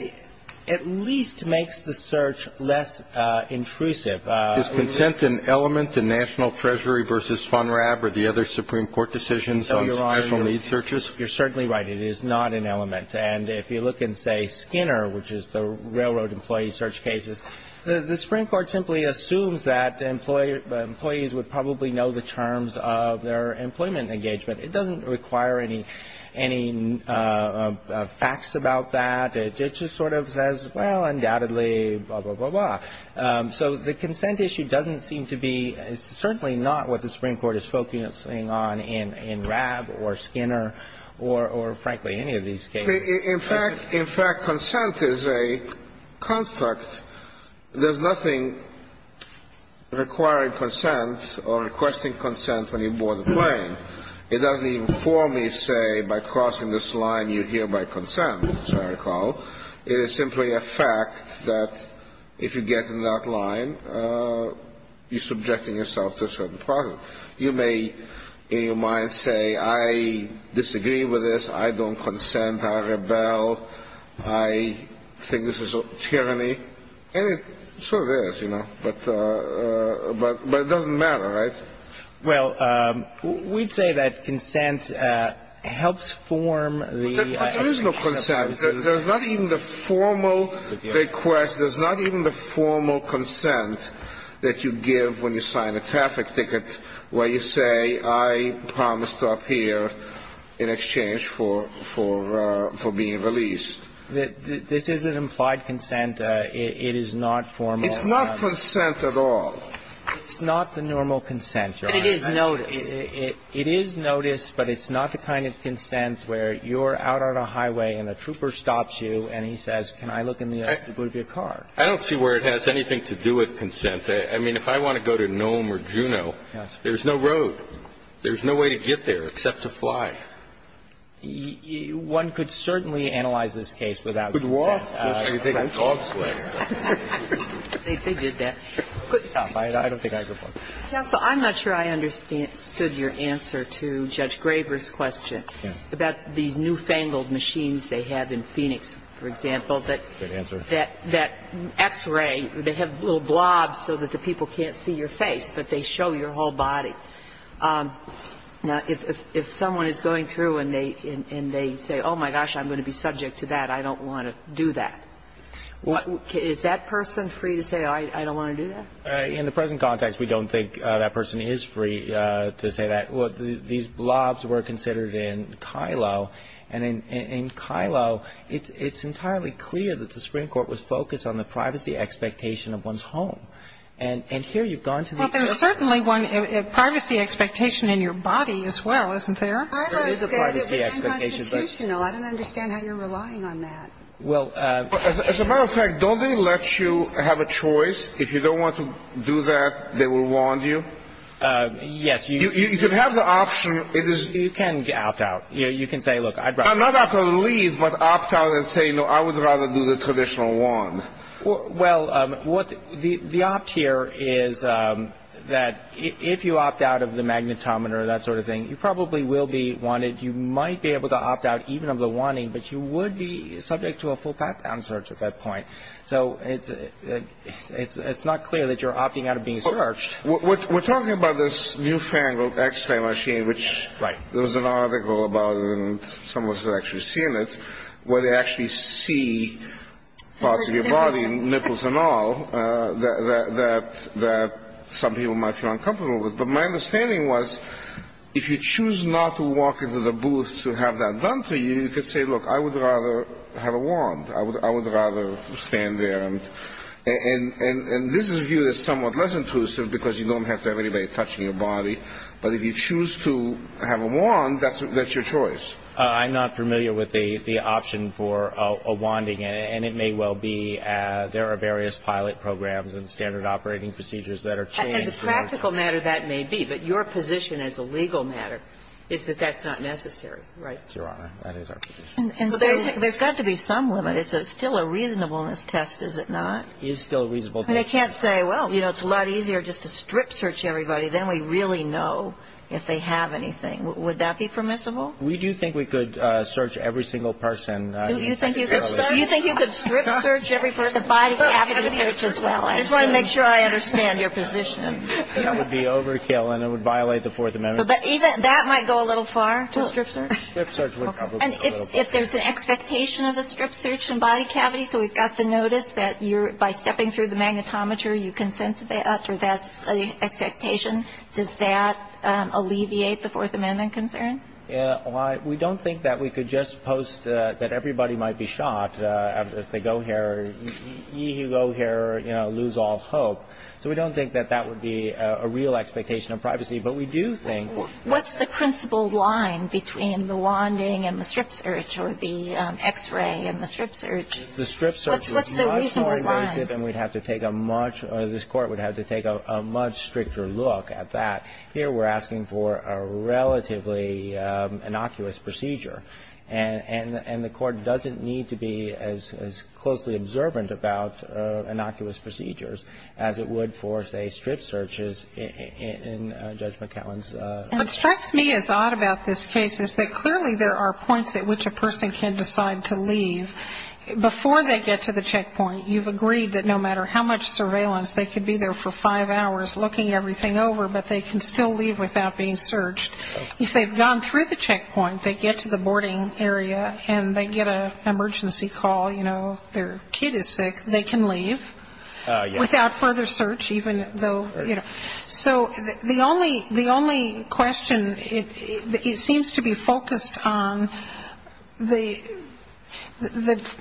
at least makes the search less intrusive. Is consent an element in national treasury versus FONRAB or the other Supreme Court decisions on special needs searches? You're certainly right. It is not an element. And if you look in, say, Skinner, which is the railroad employee search cases, the Supreme Court simply assumes that employees would probably know the terms of their employment engagement. It doesn't require any facts about that. It just sort of says, well, undoubtedly, blah, blah, blah, blah. So the consent issue doesn't seem to be, certainly not what the Supreme Court is focusing on in FONRAB or Skinner or, frankly, any of these cases. In fact, consent is a construct. There's nothing requiring consent or requesting consent when you board a plane. It doesn't even formally say, by crossing this line, you're here by consent, as I recall. It is simply a fact that if you get in that line, you're subjecting yourself to a certain process. You may, in your mind, say, I disagree with this, I don't consent, I rebel, I think this is a tyranny. And it sort of is, you know. But it doesn't matter, right? Well, we'd say that consent helps form the application of premises. But there is no consent. There's not even the formal request. There's not even the formal consent that you give when you sign a traffic ticket where you say, I promise to appear in exchange for being released. This is an implied consent. It is not formal. It's not consent at all. It's not the normal consent, Your Honor. But it is notice. It is notice, but it's not the kind of consent where you're out on a highway and a trooper stops you and he says, can I look in the boot of your car? I don't see where it has anything to do with consent. I mean, if I want to go to Nome or Juneau, there's no road. There's no way to get there except to fly. One could certainly analyze this case without consent. I'm not sure I understood your answer to Judge Graber's question about these newfangled machines they have in Phoenix, for example, that X-ray, they have little blobs so that the people can't see your face, but they show your whole body. Now, if someone is going through and they say, oh, my gosh, I'm going to be subject to that, I don't want to do that. Is that person free to say, oh, I don't want to do that? In the present context, we don't think that person is free to say that. These blobs were considered in Kilo, and in Kilo, it's entirely clear that the Supreme Court was focused on the privacy expectation of one's home. And here you've gone to the extent of the privacy expectation in your body as well, isn't there? I don't say that it's unconstitutional. I don't understand how you're relying on that. Well, as a matter of fact, don't they let you have a choice? If you don't want to do that, they will wand you? Yes. You can have the option. You can opt out. You can say, look, I'd rather. I'm not opting to leave, but opt out and say, no, I would rather do the traditional wand. Well, what the opt here is that if you opt out of the magnetometer, that sort of thing, you probably will be wanted. You might be able to opt out even of the wanting, but you would be subject to a full path down search at that point. So it's not clear that you're opting out of being searched. We're talking about this newfangled X-ray machine, which there was an article about, and some of us have actually seen it, where they actually see parts of your body, nipples and all, that some people might feel uncomfortable with. But my understanding was if you choose not to walk into the booth to have that done to you, you could say, look, I would rather have a wand. I would rather stand there. And this is viewed as somewhat less intrusive because you don't have to have anybody touching your body. But if you choose to have a wand, that's your choice. I'm not familiar with the option for a wanding, and it may well be there are various pilot programs and standard operating procedures that are changed. But the practical matter, that may be. But your position as a legal matter is that that's not necessary. Right? Your Honor, that is our position. And so there's got to be some limit. It's still a reasonableness test, is it not? It is still a reasonableness test. They can't say, well, you know, it's a lot easier just to strip search everybody. Then we really know if they have anything. Would that be permissible? We do think we could search every single person. You think you could strip search every person? The body cavity search as well. I just want to make sure I understand your position. That would be overkill, and it would violate the Fourth Amendment. That might go a little far to strip search. Strip search would probably go a little far. And if there's an expectation of a strip search in body cavity, so we've got the notice that you're, by stepping through the magnetometer, you consent to that, or that's an expectation, does that alleviate the Fourth Amendment concerns? We don't think that we could just post that everybody might be shot if they go here. You go here, you know, lose all hope. So we don't think that that would be a real expectation of privacy, but we do think What's the principle line between the wanding and the strip search or the X-ray and the strip search? The strip search is much more invasive, and we'd have to take a much or this Court would have to take a much stricter look at that. Here we're asking for a relatively innocuous procedure, and the Court doesn't need to be as closely observant about innocuous procedures as it would for, say, strip searches in Judge McAllen's case. What strikes me as odd about this case is that clearly there are points at which a person can decide to leave. Before they get to the checkpoint, you've agreed that no matter how much surveillance they could be there for five hours looking everything over, but they can still leave without being searched. If they've gone through the checkpoint, they get to the boarding area, and they get an emergency call, you know, their kid is sick, they can leave without further search, even though, you know. So the only question, it seems to be focused on the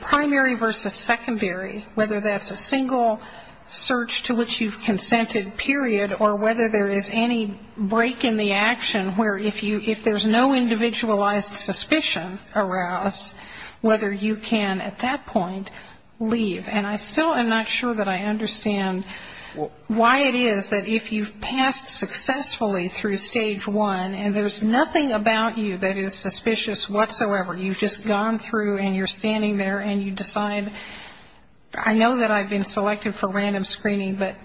primary versus secondary, whether that's a single search to which you've consented, period, or whether there is any break in the action where if there's no individualized suspicion aroused, whether you can at that point leave. And I still am not sure that I understand why it is that if you've passed successfully through Stage 1, and there's nothing about you that is suspicious whatsoever, you've just gone through and you're standing there and you decide, I know that I've been selected for random screening, but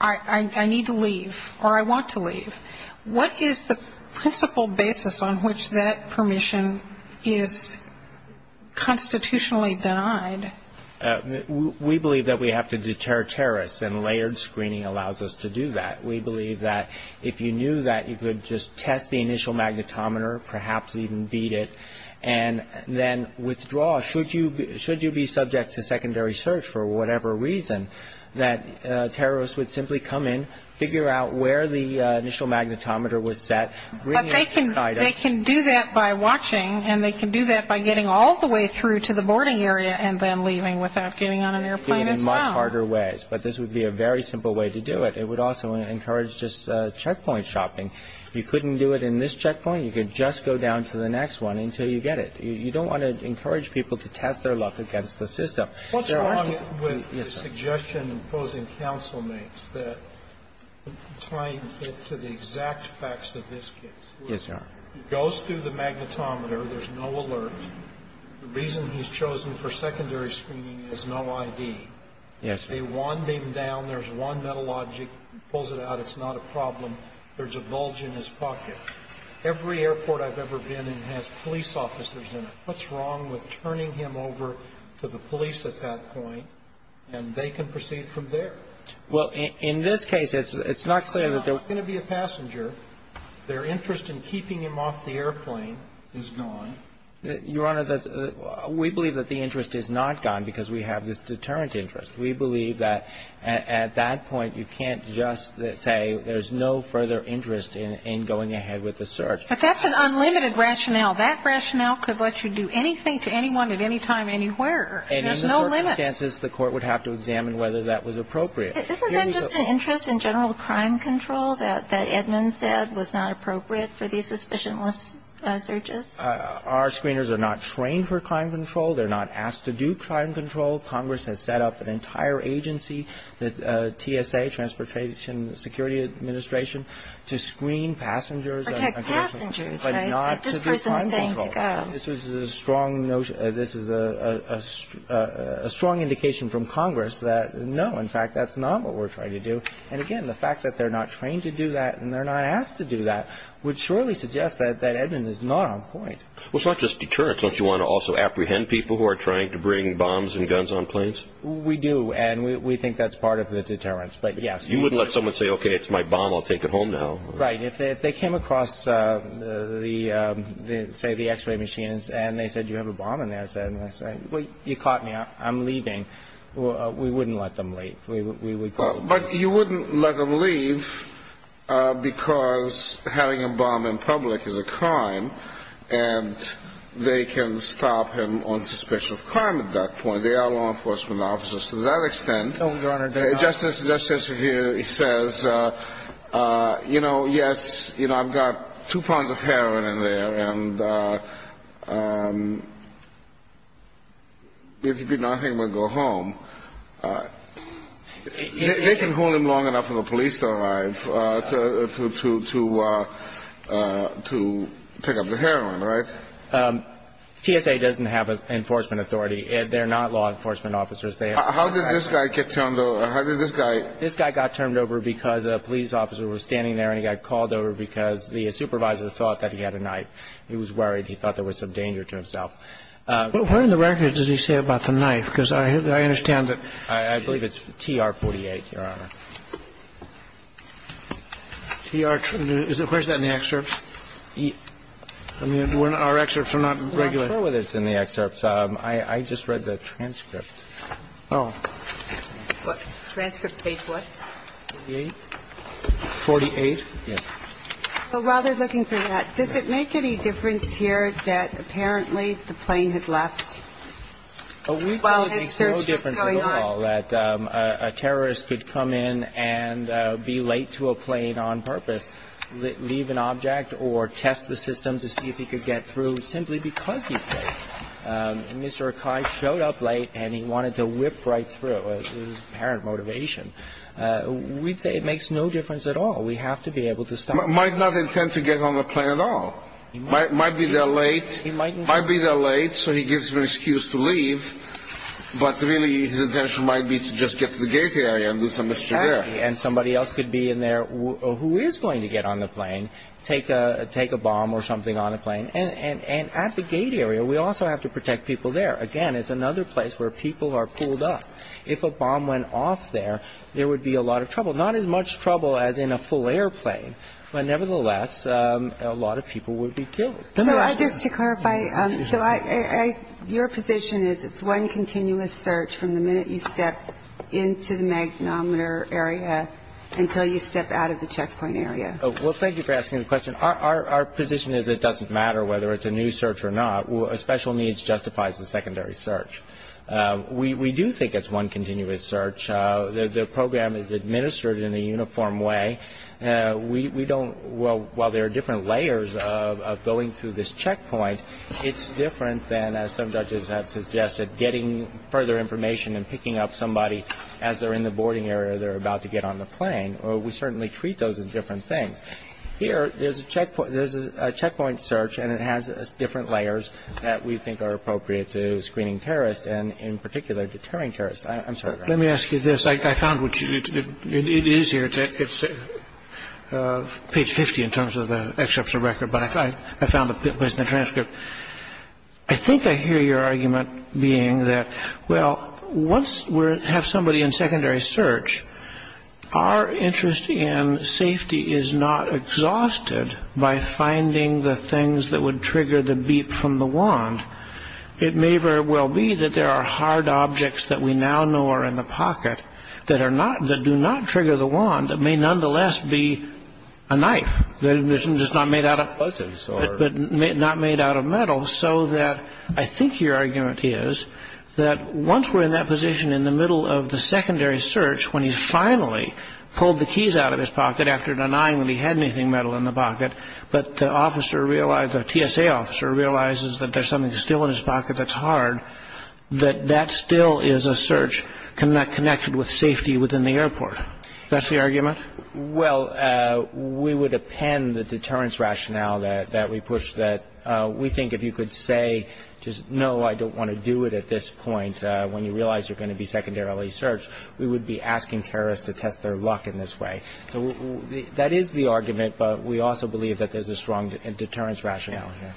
I need to leave, or I want to leave. What is the principle basis on which that permission is constitutionally denied? We believe that we have to deter terrorists, and layered screening allows us to do that. We believe that if you knew that, you could just test the initial magnetometer, perhaps even beat it, and then withdraw. Should you be subject to secondary search for whatever reason, that terrorists would simply come in, figure out where the initial magnetometer was set. But they can do that by watching, and they can do that by getting all the way through to the boarding area and then leaving without getting on an airplane as well. In much harder ways. But this would be a very simple way to do it. It would also encourage just checkpoint shopping. You couldn't do it in this checkpoint. You could just go down to the next one until you get it. You don't want to encourage people to test their luck against the system. Sotomayor, what's wrong with the suggestion opposing counsel makes that tying it to the exact facts of this case? Yes, Your Honor. He goes through the magnetometer. There's no alert. The reason he's chosen for secondary screening is no ID. Yes, Your Honor. They wand him down. There's one metal object. He pulls it out. It's not a problem. There's a bulge in his pocket. Every airport I've ever been in has police officers in it. What's wrong with turning him over to the police at that point and they can proceed from there? Well, in this case, it's not clear that they're going to be a passenger. Their interest in keeping him off the airplane is gone. Your Honor, we believe that the interest is not gone because we have this deterrent interest. We believe that at that point you can't just say there's no further interest in going ahead with the search. But that's an unlimited rationale. That rationale could let you do anything to anyone at any time anywhere. There's no limit. And in the circumstances, the court would have to examine whether that was appropriate. Isn't that just an interest in general crime control that Edmunds said was not appropriate for these suspicionless searches? Our screeners are not trained for crime control. They're not asked to do crime control. Congress has set up an entire agency, the TSA, Transportation Security Administration, to screen passengers. To protect passengers, right? This person is saying to go. This is a strong indication from Congress that, no, in fact, that's not what we're trying to do. And, again, the fact that they're not trained to do that and they're not asked to do that would surely suggest that Edmunds is not on point. Well, it's not just deterrence. Don't you want to also apprehend people who are trying to bring bombs and guns on planes? We do. And we think that's part of the deterrence. But, yes. You wouldn't let someone say, okay, it's my bomb. I'll take it home now. Right. If they came across, say, the x-ray machines and they said you have a bomb in there and I said, well, you caught me. I'm leaving. We wouldn't let them leave. We would call the police. But you wouldn't let them leave because having a bomb in public is a crime and they can stop him on suspicion of crime at that point. They are law enforcement officers to that extent. Oh, Your Honor, they are. Okay. Justice here says, you know, yes, you know, I've got two pounds of heroin in there and if you do nothing, we'll go home. They can hold him long enough for the police to arrive to pick up the heroin, right? TSA doesn't have an enforcement authority. They're not law enforcement officers. How did this guy get turned over? How did this guy? This guy got turned over because a police officer was standing there and he got called over because the supervisor thought that he had a knife. He was worried. He thought there was some danger to himself. But where in the record does he say about the knife? Because I understand that. I believe it's TR-48, Your Honor. TR-48. Where's that in the excerpts? I mean, our excerpts are not regular. I'm not sure whether it's in the excerpts. I just read the transcript. Oh. What? Transcript page what? 48? 48? Yes. So while they're looking for that, does it make any difference here that apparently the plane had left while his search was going on? We saw no difference at all that a terrorist could come in and be late to a plane on purpose, leave an object or test the system to see if he could get through simply because he's late. Mr. Akai showed up late and he wanted to whip right through. It was his apparent motivation. We'd say it makes no difference at all. We have to be able to stop him. Might not intend to get on the plane at all. Might be they're late. Might be they're late so he gives them an excuse to leave. But really his intention might be to just get to the gate area and do some mischief there. Exactly. And somebody else could be in there who is going to get on the plane, take a bomb or something on the plane. And at the gate area we also have to protect people there. Again, it's another place where people are pulled up. If a bomb went off there, there would be a lot of trouble. Not as much trouble as in a full airplane, but nevertheless a lot of people would be killed. So just to clarify, so your position is it's one continuous search from the minute you step into the magnometer area until you step out of the checkpoint area? Well, thank you for asking the question. Our position is it doesn't matter whether it's a new search or not. Special needs justifies the secondary search. We do think it's one continuous search. The program is administered in a uniform way. We don't, while there are different layers of going through this checkpoint, it's different than, as some judges have suggested, getting further information and picking up somebody as they're in the boarding area they're about to get on the plane. We certainly treat those as different things. Here, there's a checkpoint search, and it has different layers that we think are appropriate to screening terrorists and, in particular, deterring terrorists. I'm sorry. Let me ask you this. I found what you did. It is here. It's page 50 in terms of the exceptional record, but I found it was in the transcript. I think I hear your argument being that, well, once we have somebody in secondary search, our interest in safety is not exhausted by finding the things that would trigger the beep from the wand. It may very well be that there are hard objects that we now know are in the pocket that do not trigger the wand that may nonetheless be a knife, just not made out of metal, so that I think your argument is that once we're in that position in the middle of the secondary search, when he's finally pulled the keys out of his pocket after denying that he had anything metal in the pocket, but the officer realized, the TSA officer realizes that there's something still in his pocket that's hard, that that still is a search connected with safety within the airport. That's the argument? Well, we would append the deterrence rationale that we push that we think if you could say, just, no, I don't want to do it at this point, when you realize you're going to be secondarily searched, we would be asking terrorists to test their luck in this way. So that is the argument, but we also believe that there's a strong deterrence rationale here.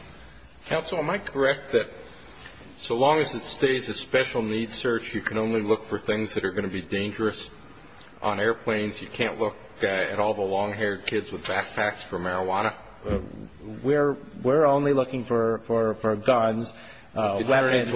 Counsel, am I correct that so long as it stays a special needs search, you can only look for things that are going to be dangerous on airplanes? You can't look at all the long-haired kids with backpacks for marijuana? We're only looking for guns, weapons.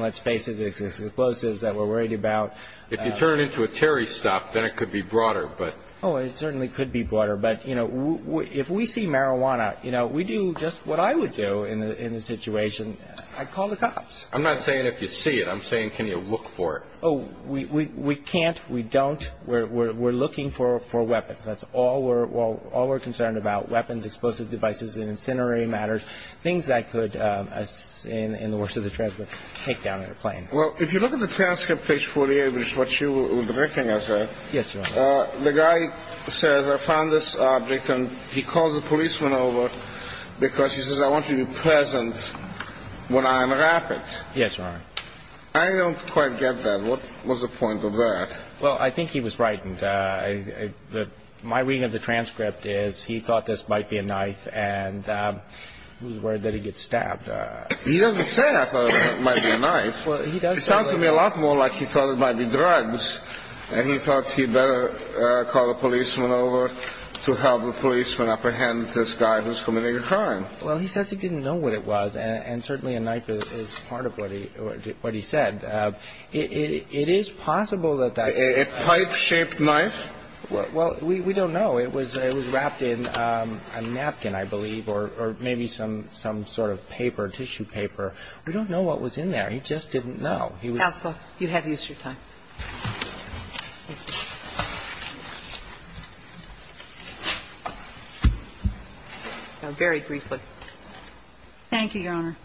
Let's face it, there's explosives that we're worried about. If you turn it into a Terry stop, then it could be broader, but. Oh, it certainly could be broader, but, you know, if we see marijuana, you know, we do just what I would do in the situation. I'd call the cops. I'm not saying if you see it. I'm saying can you look for it? Oh, we can't. We don't. We're looking for weapons. That's all we're concerned about, weapons, explosive devices and incendiary matters, things that could, in the worst of the trend, take down an airplane. Well, if you look at the transcript, page 48, which is what you were directing, I say. Yes, Your Honor. The guy says, I found this object, and he calls the policeman over because he says, I want you to be present when I unwrap it. Yes, Your Honor. I don't quite get that. What was the point of that? Well, I think he was frightened. My reading of the transcript is he thought this might be a knife, and he was worried that he'd get stabbed. He doesn't say, I thought it might be a knife. Well, he does say that. It sounds to me a lot more like he thought it might be drugs, and he thought he better call the policeman over to help the policeman apprehend this guy who's committing a crime. Well, he says he didn't know what it was, and certainly a knife is part of what he said. It is possible that that's... A pipe-shaped knife? Well, we don't know. It was wrapped in a napkin, I believe, or maybe some sort of paper, tissue paper. We don't know what was in there. He just didn't know. He was... Counsel, you have Easter time. Very briefly. Thank you, Your Honor.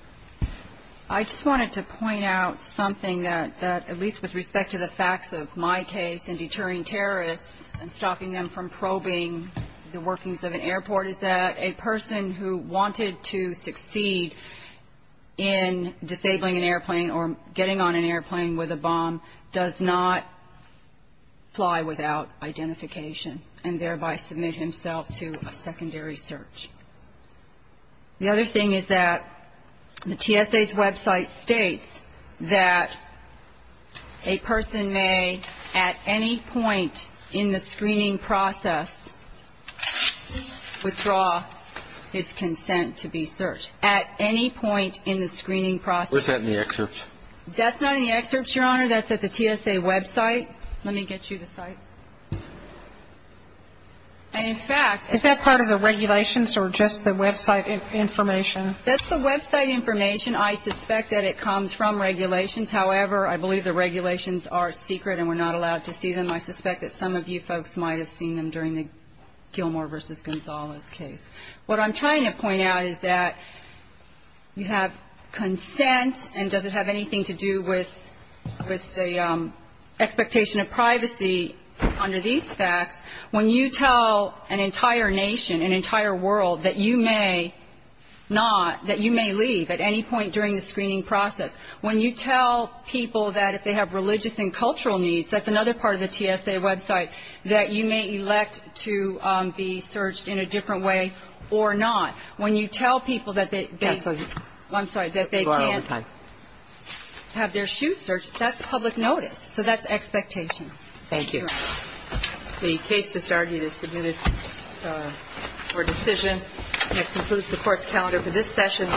I just wanted to point out something that, at least with respect to the facts of my case and deterring terrorists and stopping them from probing the workings of an airport, is that a person who wanted to succeed in disabling an airplane or getting on an airplane with a bomb does not fly without identification and thereby submit himself to a secondary search. The other thing is that the TSA's website states that a person may, at any point in the screening process, withdraw his consent to be searched. At any point in the screening process. What's that in the excerpts? That's not in the excerpts, Your Honor. That's at the TSA website. Let me get you the site. And, in fact... Is that part of the regulations or just the website information? That's the website information. I suspect that it comes from regulations. However, I believe the regulations are secret and we're not allowed to see them. I suspect that some of you folks might have seen them during the Gilmore v. Gonzales case. What I'm trying to point out is that you have consent, and does it have anything to do with the expectation of privacy under these facts? When you tell an entire nation, an entire world, that you may not, that you may leave at any point during the screening process. When you tell people that if they have religious and cultural needs, that's another part of the TSA website, that you may elect to be searched in a different way or not. I'm sorry. That they can't have their shoes searched, that's public notice. So that's expectations. Thank you. The case just argued is submitted for decision. And that concludes the Court's calendar for this session. Thank you. Oh, wow.